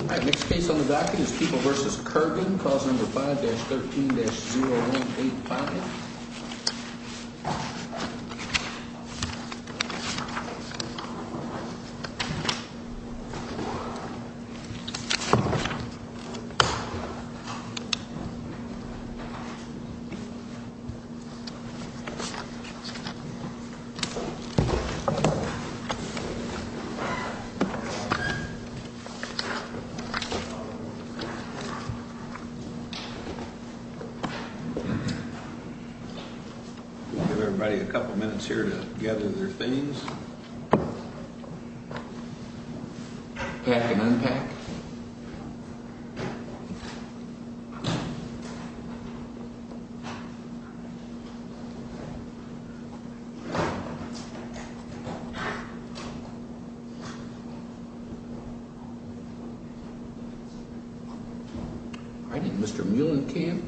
Alright, next case on the docket is People v. Kirgan, cause number 5-13-0185. We'll give everybody a couple minutes here to gather their things, pack and unpack. Alright, Mr. Muhlenkamp,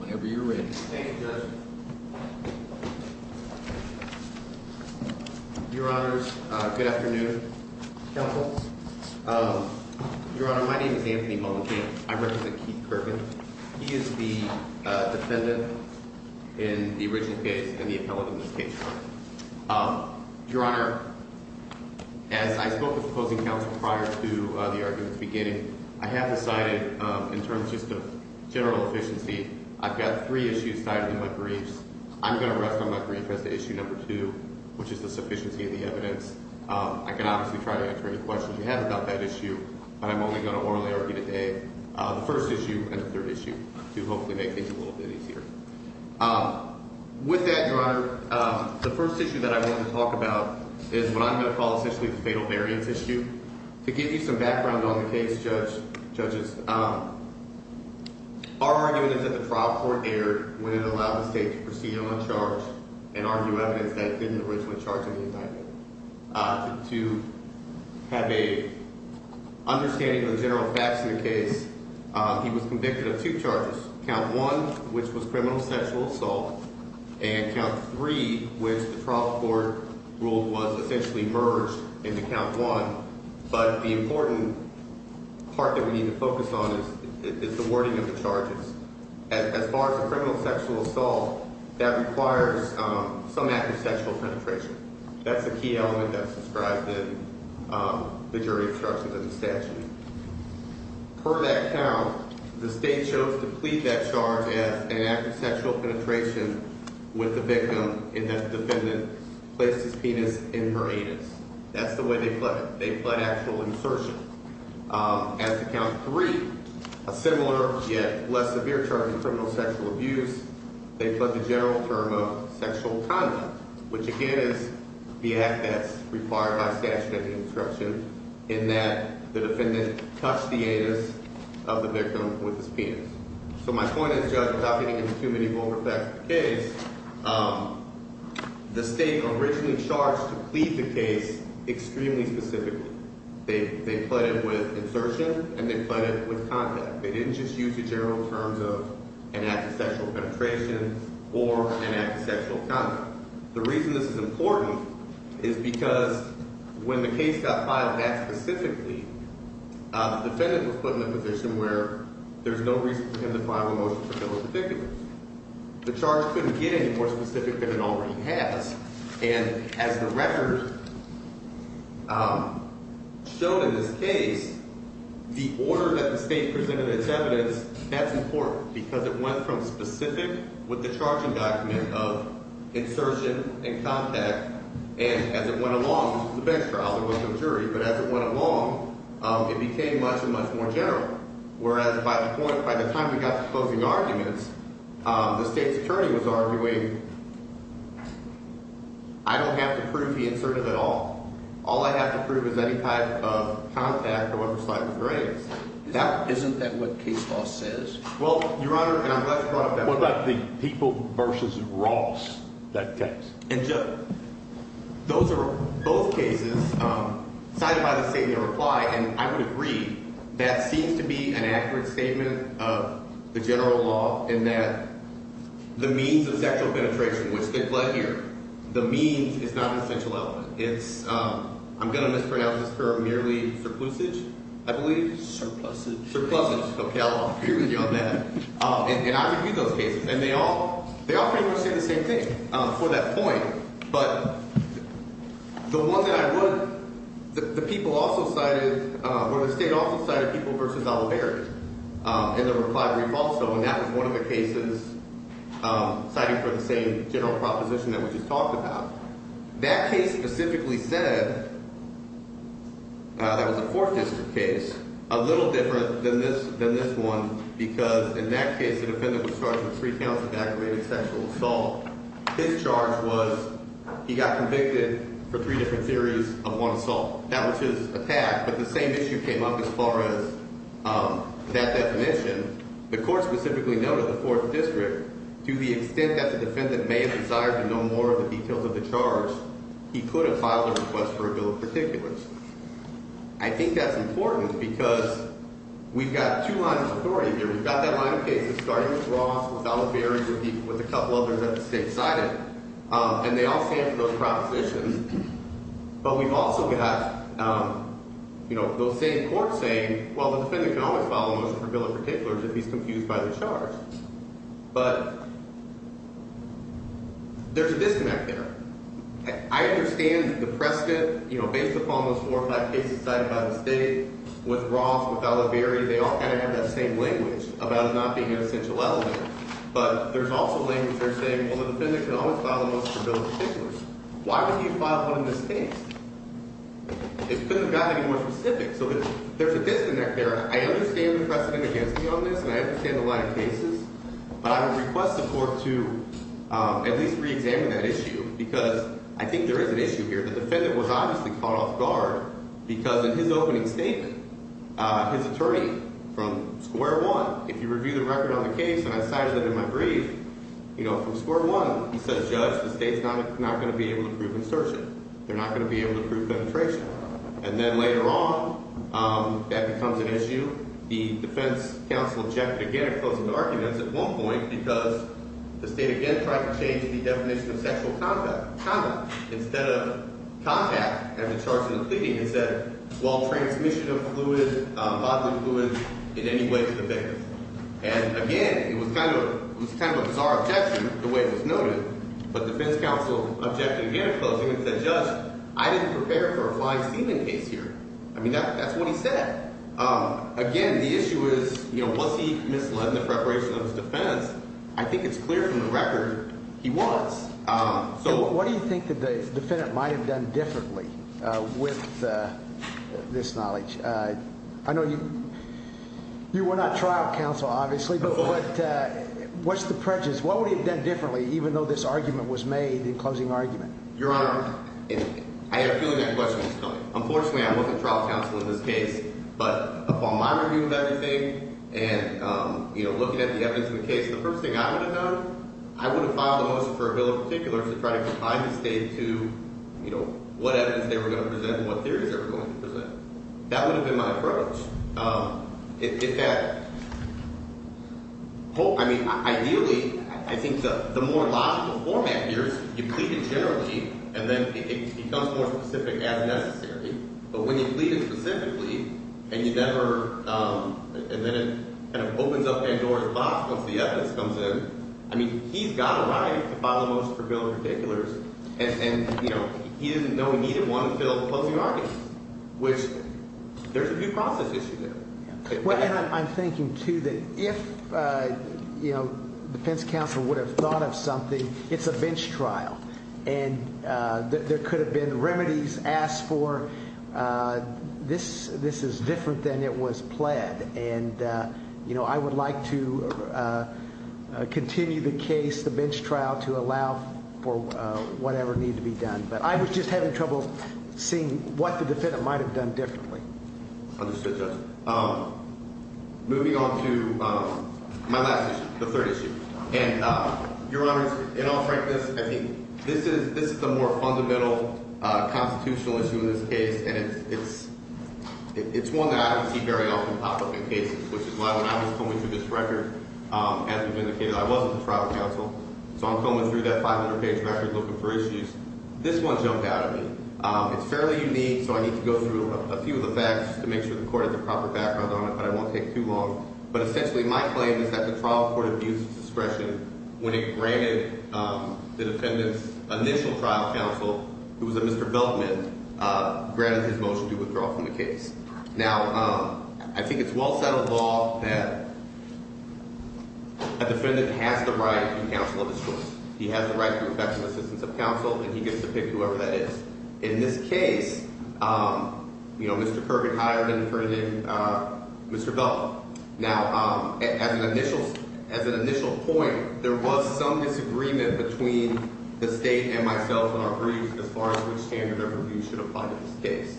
whenever you're ready. Thank you, Judge. Your Honors, good afternoon, Counsel. Your Honor, my name is Anthony Muhlenkamp. I represent Keith Kirgan. He is the defendant in the original case and the appellate in this case. Your Honor, as I spoke with the opposing counsel prior to the argument's beginning, I have decided, in terms just of general efficiency, I've got three issues tied to my briefs. I'm going to rest on my brief as to issue number two, which is the sufficiency of the evidence. I can obviously try to answer any questions you have about that issue, but I'm only going to orally argue today the first issue and the third issue to hopefully make things a little bit easier. With that, Your Honor, the first issue that I want to talk about is what I'm going to call essentially the fatal variance issue. To give you some background on the case, Judges, our argument is that the trial court erred when it allowed the state to proceed on charge and argue evidence that it didn't originally charge in the indictment. To have an understanding of the general facts in the case, he was convicted of two charges. Count one, which was criminal sexual assault, and count three, which the trial court ruled was essentially merged into count one. But the important part that we need to focus on is the wording of the charges. As far as the criminal sexual assault, that requires some act of sexual penetration. That's the key element that's described in the jury instructions in the statute. Per that count, the state chose to plead that charge as an act of sexual penetration with the victim in that the defendant placed his penis in her anus. That's the way they pled. They pled actual insertion. As to count three, a similar yet less severe charge of criminal sexual abuse, they pled the general term of sexual conduct, which again is the act that's required by statute in the instruction in that the defendant touched the anus of the victim with his penis. So my point is, Judge, without getting into too many vulgar facts of the case, the state originally charged to plead the case extremely specifically. They pled it with insertion, and they pled it with conduct. They didn't just use the general terms of an act of sexual penetration or an act of sexual conduct. The reason this is important is because when the case got filed that specifically, the defendant was put in a position where there's no reason for him to file a motion to kill his victim. The charge couldn't get any more specific than it already has. And as the record showed in this case, the order that the state presented its evidence, that's important, because it went from specific with the charging document of insertion and conduct, and as it went along, the bench trial, there was no jury, but as it went along, it became much and much more general. Whereas by the point, by the time we got to the closing arguments, the state's attorney was arguing, I don't have to prove the insertion at all. All I have to prove is any type of contact or oversight with grace. Isn't that what case law says? Well, Your Honor, and I'm glad you brought up that point. What about the people versus Ross, that text? And, Judge, those are both cases cited by the state in reply, and I would agree that seems to be an accurate statement of the general law in that the means of sexual penetration, which they've led here, the means is not an essential element. I'm going to mispronounce this term merely surplusage, I believe. Surplusage. Surplusage. Okay, I'll argue with you on that. And I review those cases, and they all pretty much say the same thing for that point. But the one that I would, the people also cited, well, the state also cited people versus Oliveri in the reply brief also, and that was one of the cases citing for the same general proposition that we just talked about. That case specifically said, that was a Fourth District case, a little different than this one because in that case, the defendant was charged with three counts of aggravated sexual assault. His charge was he got convicted for three different theories of one assault. That was his attack, but the same issue came up as far as that definition. The court specifically noted the Fourth District to the extent that the defendant may have desired to know more of the details of the charge, he could have filed a request for a bill of particulars. I think that's important because we've got two lines of authority here. We've got that line of cases starting with Ross, with Oliveri, with a couple others that the state cited, and they all stand for those propositions. But we've also got, you know, those same courts saying, well, the defendant can always file a motion for a bill of particulars if he's confused by the charge. But there's a disconnect there. I understand the precedent, you know, based upon those four or five cases cited by the state with Ross, with Oliveri. They all kind of have that same language about it not being an essential element. But there's also language there saying, well, the defendant can always file a motion for a bill of particulars. Why would he file one in this case? It couldn't have gotten any more specific. So there's a disconnect there. I understand the precedent against me on this, and I understand the line of cases. But I would request the court to at least reexamine that issue because I think there is an issue here. The defendant was obviously caught off guard because in his opening statement, his attorney from square one, if you review the record on the case and I cited it in my brief, you know, from square one, he said, Judge, the state's not going to be able to prove insurgent. They're not going to be able to prove penetration. And then later on, that becomes an issue. The defense counsel objected again in closing arguments at one point because the state again tried to change the definition of sexual conduct. Instead of contact, as it starts in the pleading, it said, well, transmission of bodily fluids in any way to the victim. And again, it was kind of a bizarre objection the way it was noted. But the defense counsel objected again in closing and said, Judge, I didn't prepare for a fine-stealing case here. I mean, that's what he said. Again, the issue is, you know, was he misled in the preparation of his defense? I think it's clear from the record he was. So what do you think that the defendant might have done differently with this knowledge? I know you were not trial counsel, obviously, but what's the prejudice? What would he have done differently, even though this argument was made in closing argument? Your Honor, I have a feeling that question is coming. Unfortunately, I'm not the trial counsel in this case. But upon my review of everything and, you know, looking at the evidence in the case, the first thing I would have done, I would have filed a motion for a bill of particulars to try to confine the state to, you know, what evidence they were going to present and what theories they were going to present. That would have been my approach. If that – I mean, ideally, I think the more logical format here is you plead in general, Chief, and then it becomes more specific as necessary. But when you plead it specifically and you never – and then it kind of opens up Andorra's box once the evidence comes in, I mean, he's got a right to file a motion for a bill of particulars. And, you know, he didn't know he needed one until the closing argument, which there's a due process issue there. Well, and I'm thinking, too, that if, you know, the defense counsel would have thought of something, it's a bench trial. And there could have been remedies asked for. This is different than it was pled. And, you know, I would like to continue the case, the bench trial, to allow for whatever needed to be done. But I was just having trouble seeing what the defendant might have done differently. Understood, Judge. Moving on to my last issue, the third issue. And, Your Honors, in all frankness, I think this is the more fundamental constitutional issue in this case, and it's one that I don't see very often pop up in cases, which is why when I was coming through this record, as you've indicated, I wasn't the trial counsel. So I'm coming through that 500-page record looking for issues. This one jumped out at me. It's fairly unique, so I need to go through a few of the facts to make sure the court has a proper background on it, but I won't take too long. But essentially my claim is that the trial court abused discretion when it granted the defendant's initial trial counsel, who was a Mr. Beltman, granted his motion to withdraw from the case. Now, I think it's well-settled law that a defendant has the right to counsel of his choice. He has the right to professional assistance of counsel, and he gets to pick whoever that is. In this case, you know, Mr. Kirk had hired Mr. Beltman. Now, as an initial point, there was some disagreement between the state and myself in our briefs as far as which standard of review should apply to this case.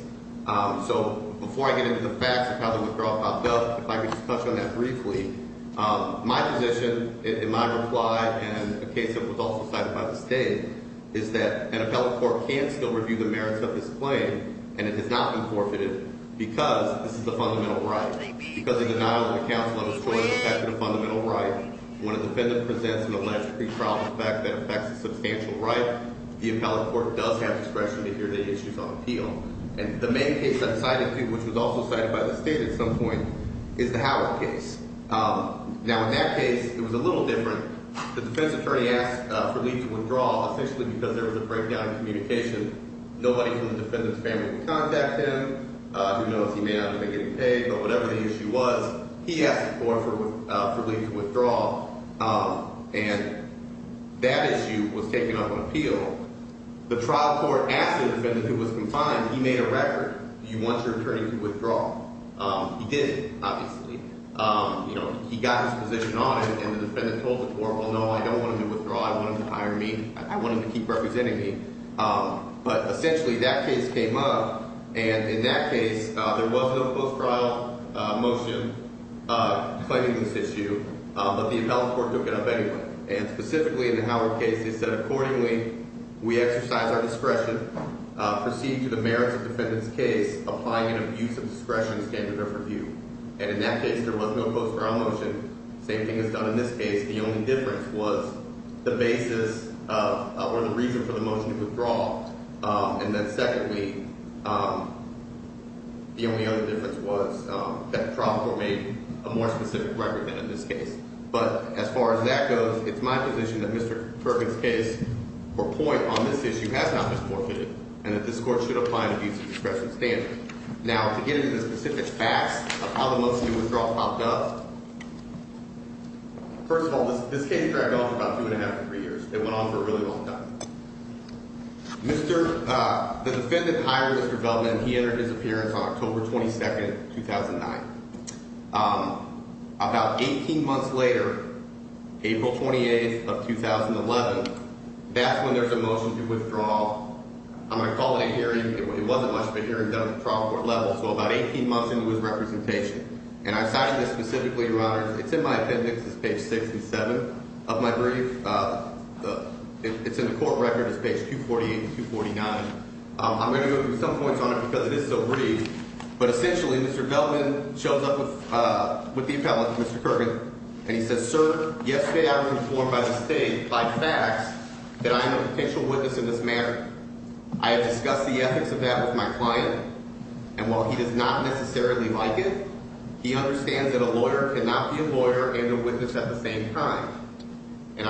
So before I get into the facts of how the withdrawal popped up, if I could just touch on that briefly, my position and my reply in a case that was also cited by the state is that an appellate court can't still review the merits of this claim, and it has not been forfeited because this is a fundamental right. Because the denial of the counsel of his choice has been a fundamental right, when a defendant presents an alleged pretrial defect that affects a substantial right, the appellate court does have discretion to hear the issues on appeal. And the main case I've cited to, which was also cited by the state at some point, is the Howard case. Now, in that case, it was a little different. The defense attorney asked for Lee to withdraw essentially because there was a breakdown in communication. Nobody from the defendant's family would contact him, who knows, he may not have been getting paid, but whatever the issue was, he asked the court for Lee to withdraw, and that issue was taken up on appeal. The trial court asked the defendant who was confined, he made a record, do you want your attorney to withdraw? He did, obviously. You know, he got his position on it, and the defendant told the court, well, no, I don't want him to withdraw. I want him to hire me. I want him to keep representing me. But essentially that case came up, and in that case, there was no post-trial motion claiming this issue, but the appellate court took it up anyway. And specifically in the Howard case, they said, accordingly, we exercise our discretion, proceed to the merits of the defendant's case, applying an abuse of discretion standard of review. And in that case, there was no post-trial motion. The same thing is done in this case. The only difference was the basis or the reason for the motion to withdraw, and then secondly, the only other difference was that the trial court made a more specific record than in this case. But as far as that goes, it's my position that Mr. Perkins' case or point on this issue has not been forfeited and that this court should apply an abuse of discretion standard. Now, to get into the specific facts of how the motion to withdraw popped up, first of all, this case dragged on for about two and a half to three years. It went on for a really long time. The defendant hired Mr. Feldman, and he entered his appearance on October 22, 2009. About 18 months later, April 28 of 2011, that's when there's a motion to withdraw. I'm going to call it a hearing. It wasn't much of a hearing done at the trial court level, so about 18 months into his representation. And I cited this specifically, Your Honors. It's in my appendix. It's page 6 and 7 of my brief. It's in the court record. It's page 248 and 249. I'm going to go through some points on it because it is so brief. But essentially, Mr. Feldman shows up with the appellant, Mr. Kirkland, and he says, Sir, yesterday I was informed by the state, by facts, that I am a potential witness in this matter. I have discussed the ethics of that with my client, and while he does not necessarily like it, he understands that a lawyer cannot be a lawyer and a witness at the same time. And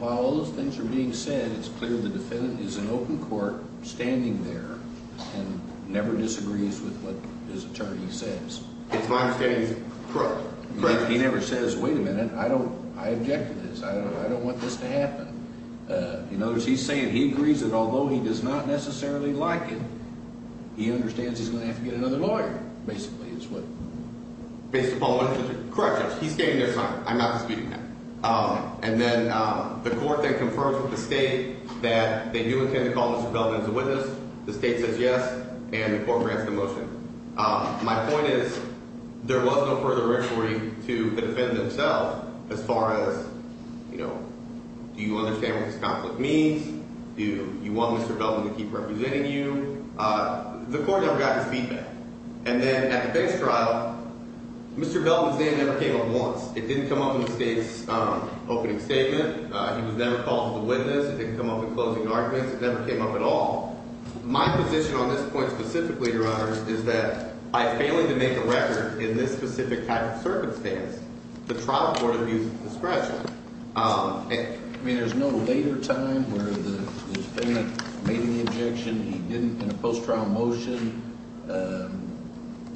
while all those things are being said, it's clear the defendant is in open court, standing there, and never disagrees with what his attorney says. It's my understanding he's correct. Correct. He never says, Wait a minute. I object to this. I don't want this to happen. In other words, he's saying he agrees that although he does not necessarily like it, he understands he's going to have to get another lawyer, basically, is what Mr. Paul mentioned. Correct, Judge. He's standing there silent. I'm not disputing that. And then the court then confirms with the state that they do intend to call Mr. Feldman as a witness. The state says yes, and the court grants the motion. My point is there was no further inquiry to the defendant himself as far as, you know, do you understand what this conflict means? Do you want Mr. Feldman to keep representing you? The court never got his feedback. And then at the base trial, Mr. Feldman's name never came up once. It didn't come up in the state's opening statement. He was never called as a witness. It didn't come up in closing arguments. It never came up at all. My position on this point specifically, Your Honor, is that by failing to make a record in this specific type of circumstance, the trial court abuses discretion. I mean, there's no later time where the defendant made any objection. He didn't, in a post-trial motion,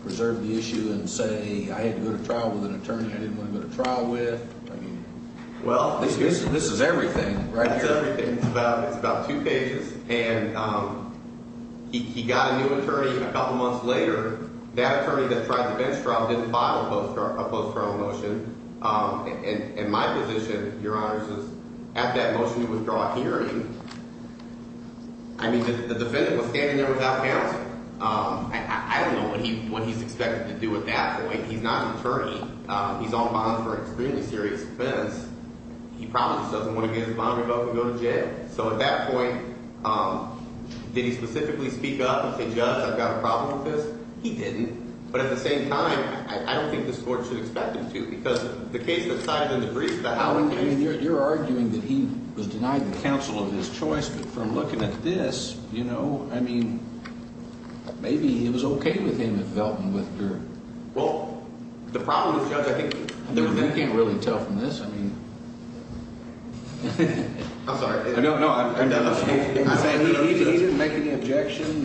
preserve the issue and say, I had to go to trial with an attorney I didn't want to go to trial with. I mean, this is everything right here. That's everything. It's about two pages. And he got a new attorney a couple months later. That attorney that tried the bench trial didn't file a post-trial motion. And my position, Your Honor, is at that motion to withdraw hearing, I mean, the defendant was standing there without counsel. I don't know what he's expected to do at that point. He's not an attorney. He's on bond for an extremely serious offense. He probably just doesn't want to get his bond revoked and go to jail. So at that point, did he specifically speak up and say, Judge, I've got a problem with this? He didn't. But at the same time, I don't think this court should expect him to because the case that's cited in the brief is about how he's going to do it. You're arguing that he was denied the counsel of his choice. But from looking at this, you know, I mean, maybe it was okay with him if Velton withdrew. Well, the problem is, Judge, I think we can't really tell from this. I mean, I'm sorry. No, no. He didn't make any objection.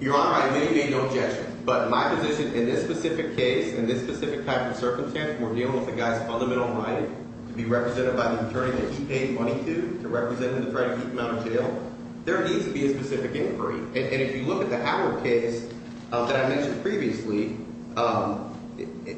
Your Honor, I made no objection. But my position in this specific case, in this specific type of circumstance, we're dealing with a guy's fundamental right to be represented by the attorney that he paid money to, to represent him to try to keep him out of jail. There needs to be a specific inquiry. And if you look at the Howard case that I mentioned previously,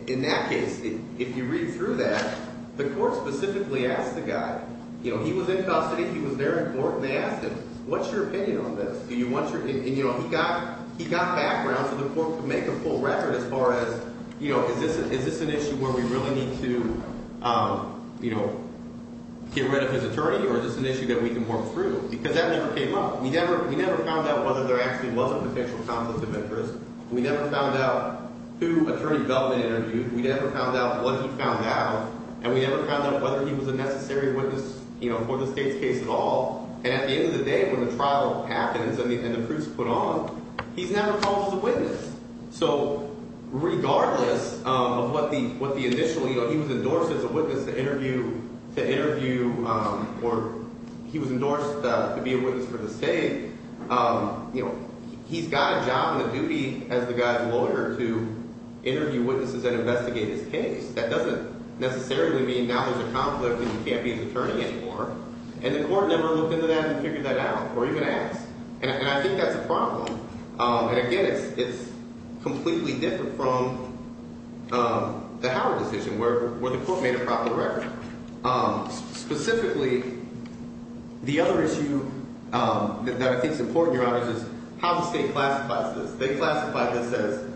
in that case, if you read through that, the court specifically asked the guy. You know, he was in custody. He was there in court, and they asked him, what's your opinion on this? And, you know, he got background for the court to make a full record as far as, you know, is this an issue where we really need to, you know, get rid of his attorney? Or is this an issue that we can work through? Because that never came up. We never found out whether there actually was a potential conflict of interest. We never found out who Attorney Velton interviewed. We never found out what he found out. And we never found out whether he was a necessary witness, you know, for the state's case at all. And at the end of the day, when the trial happens and the proofs are put on, he's never called the witness. So regardless of what the initial, you know, he was endorsed as a witness to interview or he was endorsed to be a witness for the state. You know, he's got a job and a duty as the guy's lawyer to interview witnesses and investigate his case. That doesn't necessarily mean now there's a conflict and he can't be his attorney anymore. And the court never looked into that and figured that out or even asked. And I think that's a problem. And, again, it's completely different from the Howard decision where the court made a proper record. Specifically, the other issue that I think is important, Your Honors, is how the state classifies this. They classify this as,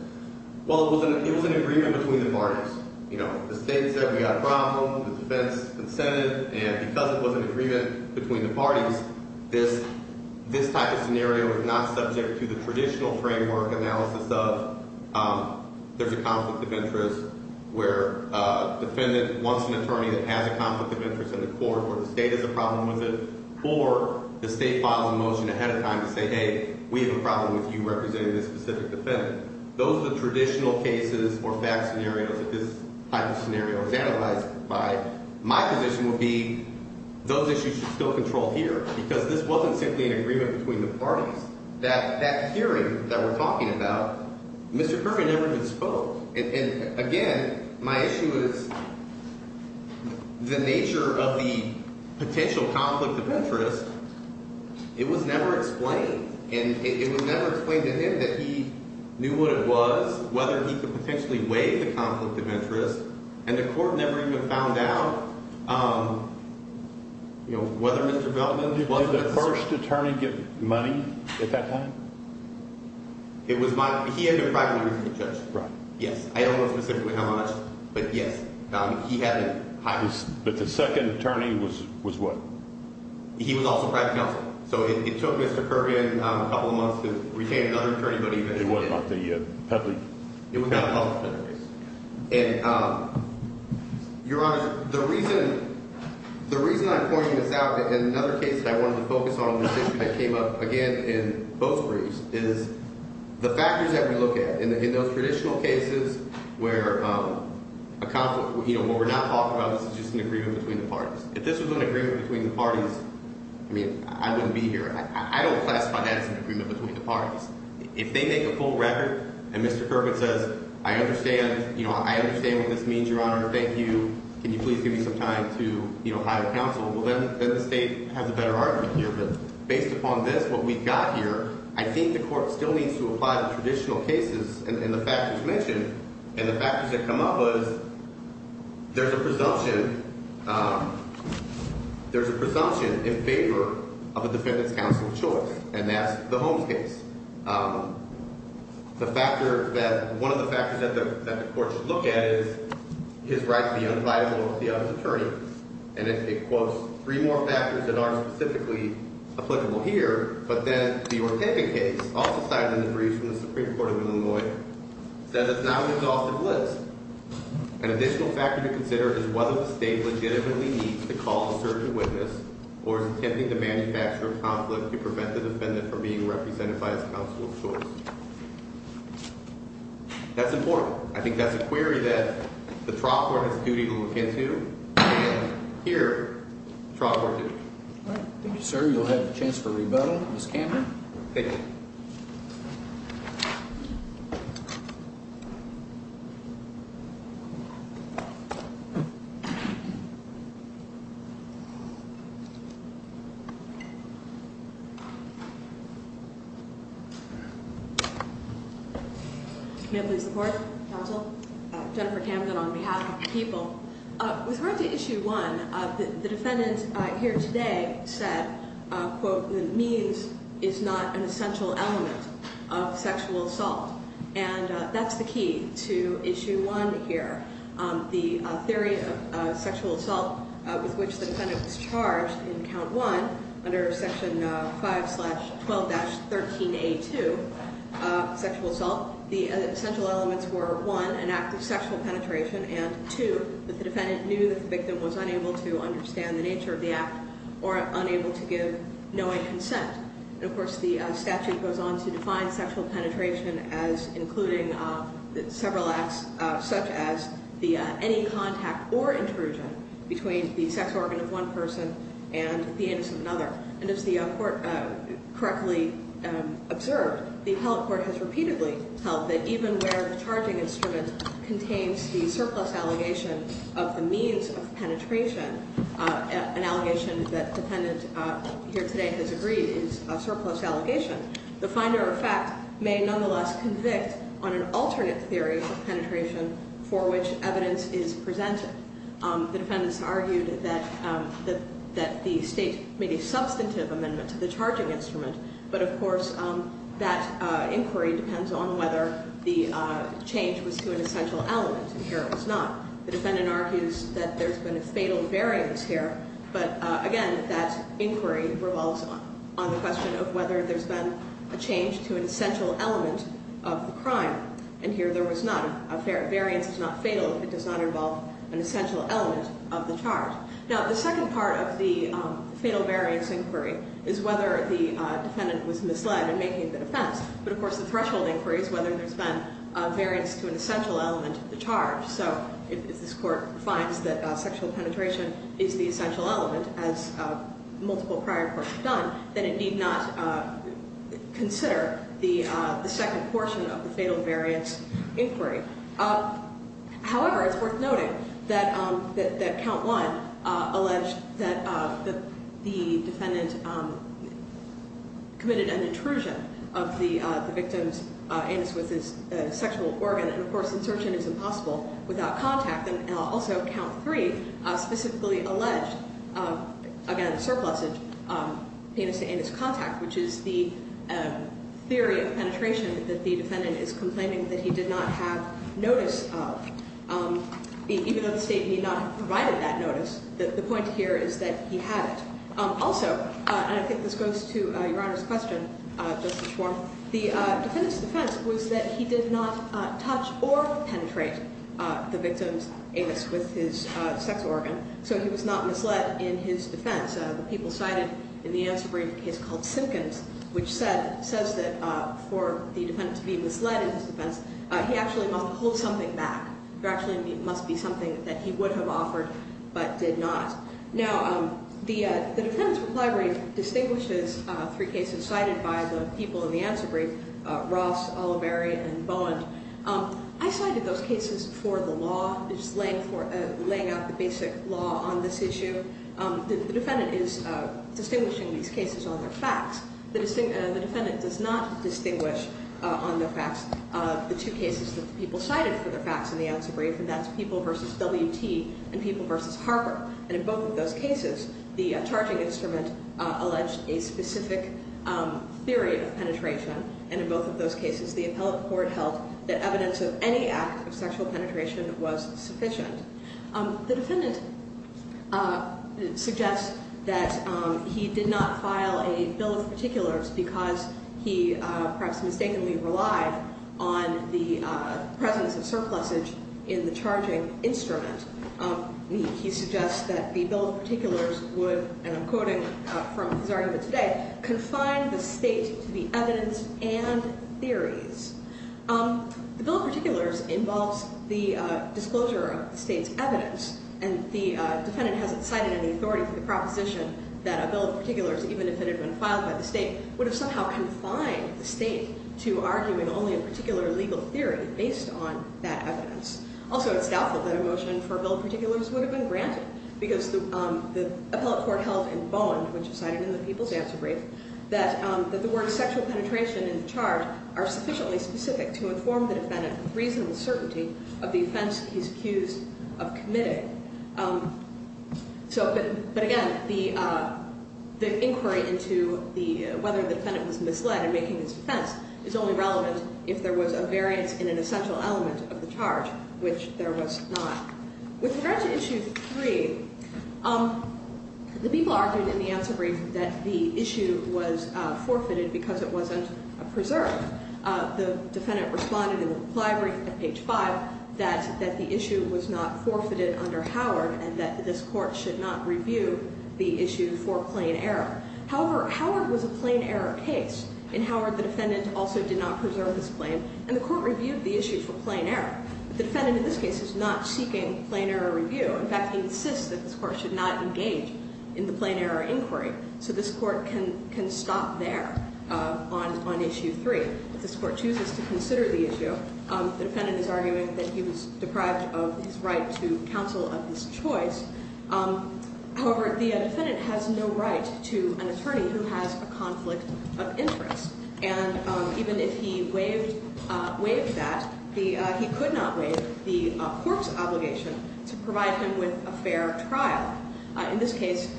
well, it was an agreement between the parties. You know, the state said we've got a problem, the defense consented, and because it was an agreement between the parties, this type of scenario is not subject to the traditional framework analysis of there's a conflict of interest where a defendant wants an attorney that has a conflict of interest in the court or the state has a problem with it or the state files a motion ahead of time to say, hey, we have a problem with you representing this specific defendant. Those are the traditional cases or fact scenarios that this type of scenario is analyzed by. My position would be those issues should still control here because this wasn't simply an agreement between the parties. That hearing that we're talking about, Mr. Kirby never even spoke. And, again, my issue is the nature of the potential conflict of interest. It was never explained. And it was never explained to him that he knew what it was, whether he could potentially weigh the conflict of interest. And the court never even found out, you know, whether Mr. Belman was the first. Did the first attorney get money at that time? It was my, he had been privately reviewed by the judge. Right. Yes. I don't know specifically how much, but, yes, he had it. But the second attorney was what? He was also private counsel. So it took Mr. Kirby a couple of months to retain another attorney, but he eventually did. It wasn't up to the public. It was not up to the public. And, Your Honor, the reason I'm pointing this out and another case that I wanted to focus on, this issue that came up again in both briefs, is the factors that we look at in those traditional cases where a conflict, you know, what we're not talking about is just an agreement between the parties. If this was an agreement between the parties, I mean, I wouldn't be here. I don't classify that as an agreement between the parties. If they make a full record and Mr. Kirby says, I understand, you know, I understand what this means, Your Honor. Thank you. Can you please give me some time to, you know, hire counsel? Well, then the state has a better argument here. But based upon this, what we've got here, I think the court still needs to apply the traditional cases and the factors mentioned and the factors that come up is there's a presumption in favor of a defendant's counsel choice, and that's the Holmes case. The factor that one of the factors that the court should look at is his right to be unviable with the other's attorney. And it quotes three more factors that aren't specifically applicable here, but then the Ortega case, also cited in the brief from the Supreme Court of Illinois, says it's not an exhaustive list. An additional factor to consider is whether the state legitimately needs to call a certain witness or is attempting to manufacture a conflict to prevent the defendant from being represented by his counsel of choice. That's important. I think that's a query that the trial court has a duty to look into, and here, trial court duty. Thank you, sir. You'll have a chance for rebuttal. Ms. Camden. Thank you. May I please report, counsel? Jennifer Camden on behalf of the people. With regard to Issue 1, the defendant here today said, quote, the means is not an essential element of sexual assault. And that's the key to Issue 1 here. The theory of sexual assault with which the defendant was charged in Count 1 under Section 5-12-13A2, sexual assault, the essential elements were, one, an act of sexual penetration, and, two, that the defendant knew that the victim was unable to understand the nature of the act or unable to give knowing consent. And, of course, the statute goes on to define sexual penetration as including several acts, such as any contact or intrusion between the sex organ of one person and the anus of another. And as the court correctly observed, the appellate court has repeatedly held that even where the charging instrument contains the surplus allegation of the means of penetration, an allegation that the defendant here today has agreed is a surplus allegation, the finder of fact may nonetheless convict on an alternate theory of penetration for which evidence is presented. The defendants argued that the State made a substantive amendment to the charging instrument, but, of course, that inquiry depends on whether the change was to an essential element, and here it was not. The defendant argues that there's been a fatal variance here, but, again, that inquiry revolves on the question of whether there's been a change to an essential element of the crime, and here there was none. Variance is not fatal. It does not involve an essential element of the charge. Now, the second part of the fatal variance inquiry is whether the defendant was misled in making the defense, but, of course, the threshold inquiry is whether there's been a variance to an essential element of the charge. So if this court finds that sexual penetration is the essential element, as multiple prior courts have done, then it need not consider the second portion of the fatal variance inquiry. However, it's worth noting that count one alleged that the defendant committed an intrusion of the victim's anus with his sexual organ, and, of course, insertion is impossible without contact, and also count three specifically alleged, again, surplused anus-to-anus contact, which is the theory of penetration that the defendant is complaining that he did not have notice of, even though the State need not have provided that notice. The point here is that he had it. Also, and I think this goes to Your Honor's question just before, the defendant's defense was that he did not touch or penetrate the victim's anus with his sex organ, so he was not misled in his defense. The people cited in the answer brief case called Simkins, which says that for the defendant to be misled in his defense, he actually must hold something back. There actually must be something that he would have offered but did not. Now, the defendant's reply brief distinguishes three cases cited by the people in the answer brief, Ross, Oliveri, and Bowen. I cited those cases for the law, just laying out the basic law on this issue. The defendant is distinguishing these cases on their facts. The defendant does not distinguish on their facts the two cases that the people cited for their facts in the answer brief, and that's People v. W.T. and People v. Harper. And in both of those cases, the charging instrument alleged a specific theory of penetration. And in both of those cases, the appellate court held that evidence of any act of sexual penetration was sufficient. The defendant suggests that he did not file a bill of particulars because he perhaps mistakenly relied on the presence of surplusage in the charging instrument. He suggests that the bill of particulars would, and I'm quoting from his argument today, confine the state to the evidence and theories. The bill of particulars involves the disclosure of the state's evidence, and the defendant hasn't cited any authority for the proposition that a bill of particulars, even if it had been filed by the state, would have somehow confined the state to arguing only a particular legal theory based on that evidence. Also, it's doubtful that a motion for a bill of particulars would have been granted, because the appellate court held in Bowen, which is cited in the people's answer brief, that the words sexual penetration and charge are sufficiently specific to inform the defendant with reasonable certainty of the offense he's accused of committing. But again, the inquiry into whether the defendant was misled in making this defense is only relevant if there was a variance in an essential element of the charge, which there was not. With regard to issue 3, the people argued in the answer brief that the issue was forfeited because it wasn't preserved. The defendant responded in the reply brief at page 5 that the issue was not forfeited under Howard and that this court should not review the issue for plain error. However, Howard was a plain error case, and Howard, the defendant, also did not preserve his claim, and the court reviewed the issue for plain error. The defendant in this case is not seeking plain error review. In fact, he insists that this court should not engage in the plain error inquiry, so this court can stop there on issue 3. If this court chooses to consider the issue, the defendant is arguing that he was deprived of his right to counsel of his choice. However, the defendant has no right to an attorney who has a conflict of interest, and even if he waived that, he could not waive the court's obligation to provide him with a fair trial. In this case,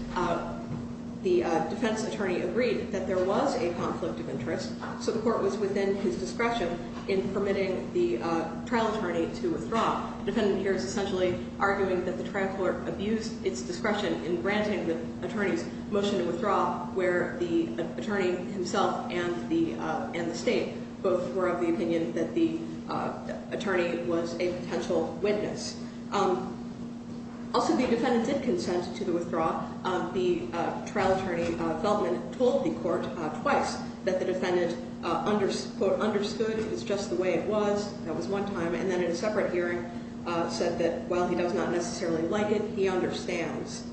the defense attorney agreed that there was a conflict of interest, so the court was within his discretion in permitting the trial attorney to withdraw. The defendant here is essentially arguing that the trial court abused its discretion in granting the attorney's motion to withdraw, where the attorney himself and the state both were of the opinion that the attorney was a potential witness. Also, the defendant did consent to the withdrawal. The trial attorney, Feldman, told the court twice that the defendant, quote, understood it was just the way it was, that was one time, and then in a separate hearing said that while he does not necessarily like it, he understands.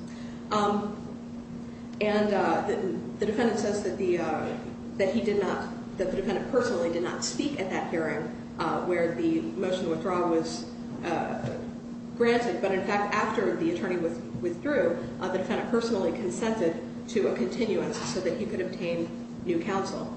And the defendant says that the defendant personally did not speak at that hearing where the motion to withdraw was granted, but in fact after the attorney withdrew, the defendant personally consented to a continuance so that he could obtain new counsel.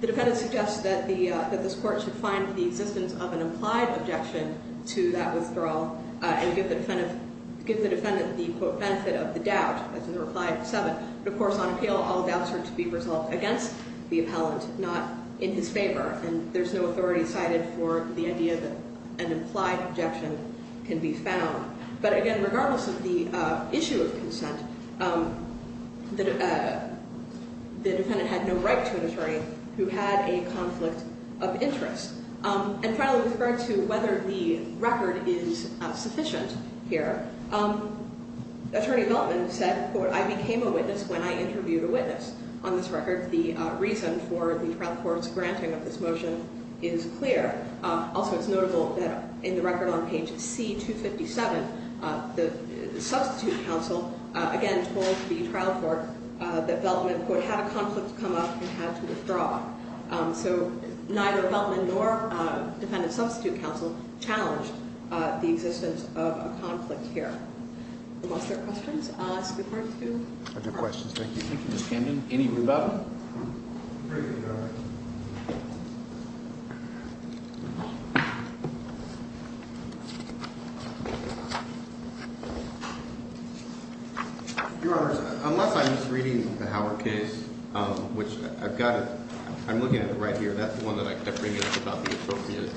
The defendant suggests that this court should find the existence of an implied objection to that withdrawal and give the defendant the, quote, benefit of the doubt, as in the reply of 7. But, of course, on appeal, all doubts are to be resolved against the appellant, not in his favor, and there's no authority cited for the idea that an implied objection can be found. But, again, regardless of the issue of consent, the defendant had no right to an attorney who had a conflict of interest. And finally, with regard to whether the record is sufficient here, Attorney Feldman said, quote, I became a witness when I interviewed a witness. On this record, the reason for the trial court's granting of this motion is clear. Also, it's notable that in the record on page C257, the substitute counsel, again, told the trial court that Feldman, quote, had a conflict come up and had to withdraw. So neither Feldman nor defendant substitute counsel challenged the existence of a conflict here. Unless there are questions, I'll ask the court to. I have no questions. Thank you. Thank you, Ms. Camden. Any rebuttal? Thank you, Your Honor. Your Honors, unless I'm misreading the Howard case, which I've got it. I'm looking at it right here. That's the one that I kept bringing up about the appropriate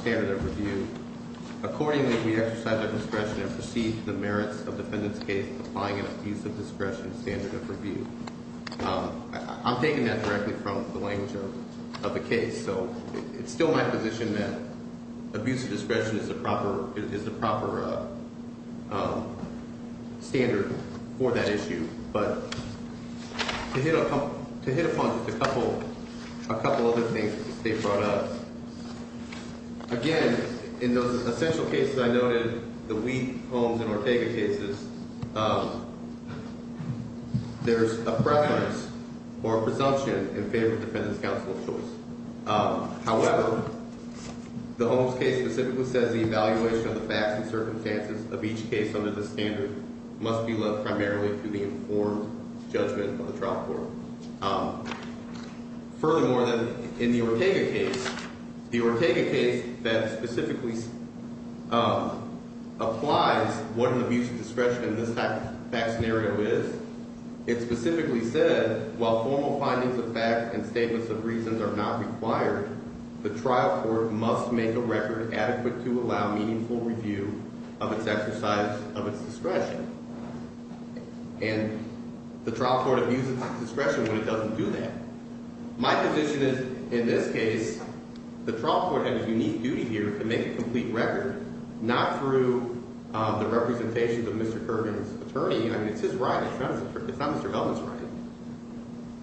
standard of review. Accordingly, we exercise our discretion and proceed to the merits of defendant's case applying an abuse of discretion standard of review. I'm taking that directly from the language of the case. So it's still my position that abuse of discretion is the proper standard for that issue. But to hit upon just a couple other things that they brought up, again, in those essential cases I noted, the Wheat, Holmes, and Ortega cases, there's a preference or a presumption in favor of defendant's counsel of choice. However, the Holmes case specifically says the evaluation of the facts and circumstances of each case under this standard must be led primarily to the informed judgment of the trial court. Furthermore, in the Ortega case, the Ortega case that specifically applies what an abuse of discretion in this type of fact scenario is, it specifically said while formal findings of fact and statements of reasons are not required, the trial court must make a record adequate to allow meaningful review of its exercise of its discretion. And the trial court abuses discretion when it doesn't do that. My position is, in this case, the trial court had a unique duty here to make a complete record, not through the representation of Mr. Kirby's attorney. I mean, it's his right. It's not Mr. Belden's right.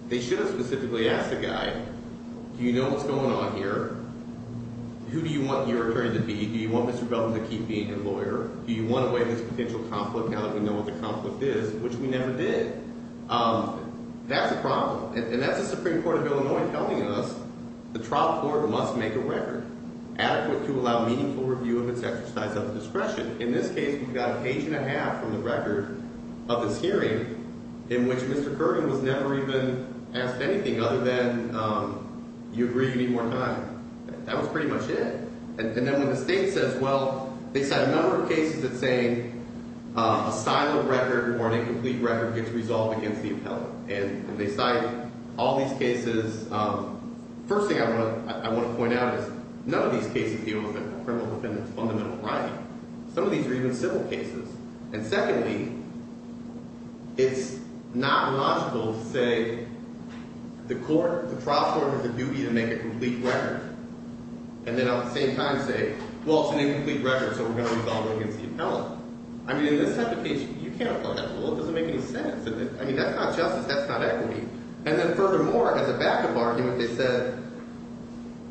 They should have specifically asked the guy, do you know what's going on here? Who do you want your attorney to be? Do you want Mr. Belden to keep being your lawyer? Do you want to weigh this potential conflict now that we know what the conflict is, which we never did? That's a problem, and that's the Supreme Court of Illinois telling us the trial court must make a record adequate to allow meaningful review of its exercise of its discretion. In this case, we've got an inch and a half from the record of this hearing in which Mr. Kirby was never even asked anything other than you agree you need more time. That was pretty much it. And then when the state says, well, they cite a number of cases that say a silent record or an incomplete record gets resolved against the appellant. And they cite all these cases. First thing I want to point out is none of these cases deal with a criminal defendant's fundamental right. Some of these are even civil cases. And secondly, it's not logical to say the court, the trial court has a duty to make a complete record. And then at the same time say, well, it's an incomplete record, so we're going to resolve it against the appellant. I mean, in this type of case, you can't apply that rule. It doesn't make any sense. I mean, that's not justice. That's not equity. And then furthermore, as a backup argument, they said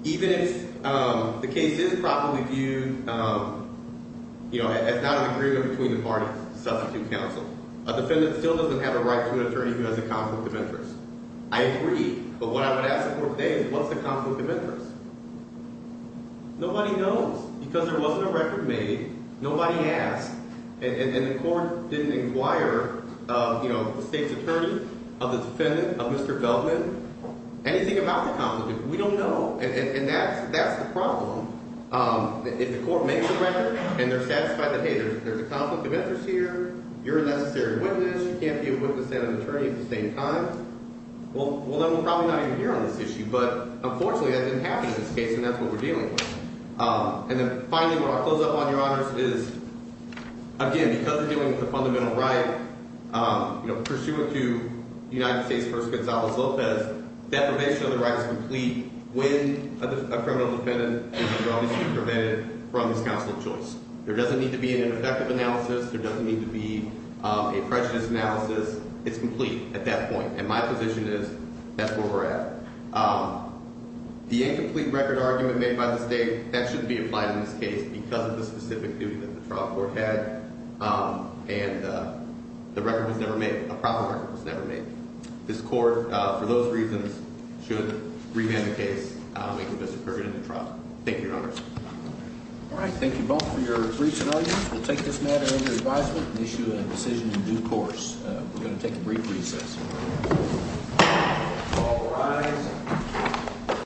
even if the case is properly viewed, you know, as not an agreement between the parties, the substitute counsel, a defendant still doesn't have a right to an attorney who has a conflict of interest. I agree. But what I would ask the court today is what's the conflict of interest? Nobody knows because there wasn't a record made. Nobody asked. And the court didn't inquire, you know, the state's attorney, the defendant, Mr. Feldman, anything about the conflict. We don't know. And that's the problem. If the court makes a record and they're satisfied that, hey, there's a conflict of interest here, you're a necessary witness, you can't be a witness and an attorney at the same time. Well, then we're probably not even here on this issue. But unfortunately, that didn't happen in this case, and that's what we're dealing with. And then finally, what I'll close up on, Your Honors, is, again, because we're dealing with a fundamental right, you know, pursuant to United States v. Gonzales-Lopez, deprivation of the right is complete when a criminal defendant is previously prevented from his counsel of choice. There doesn't need to be an introductive analysis. There doesn't need to be a prejudice analysis. It's complete at that point. And my position is that's where we're at. The incomplete record argument made by the state, that shouldn't be applied in this case because of the specific duty that the trial court had. And the record was never made. A proper record was never made. This court, for those reasons, should revand the case and convict Mr. Perkins of the trial. Thank you, Your Honors. All right. Thank you both for your briefs and arguments. We'll take this matter under advisement and issue a decision in due course. We're going to take a brief recess. All rise.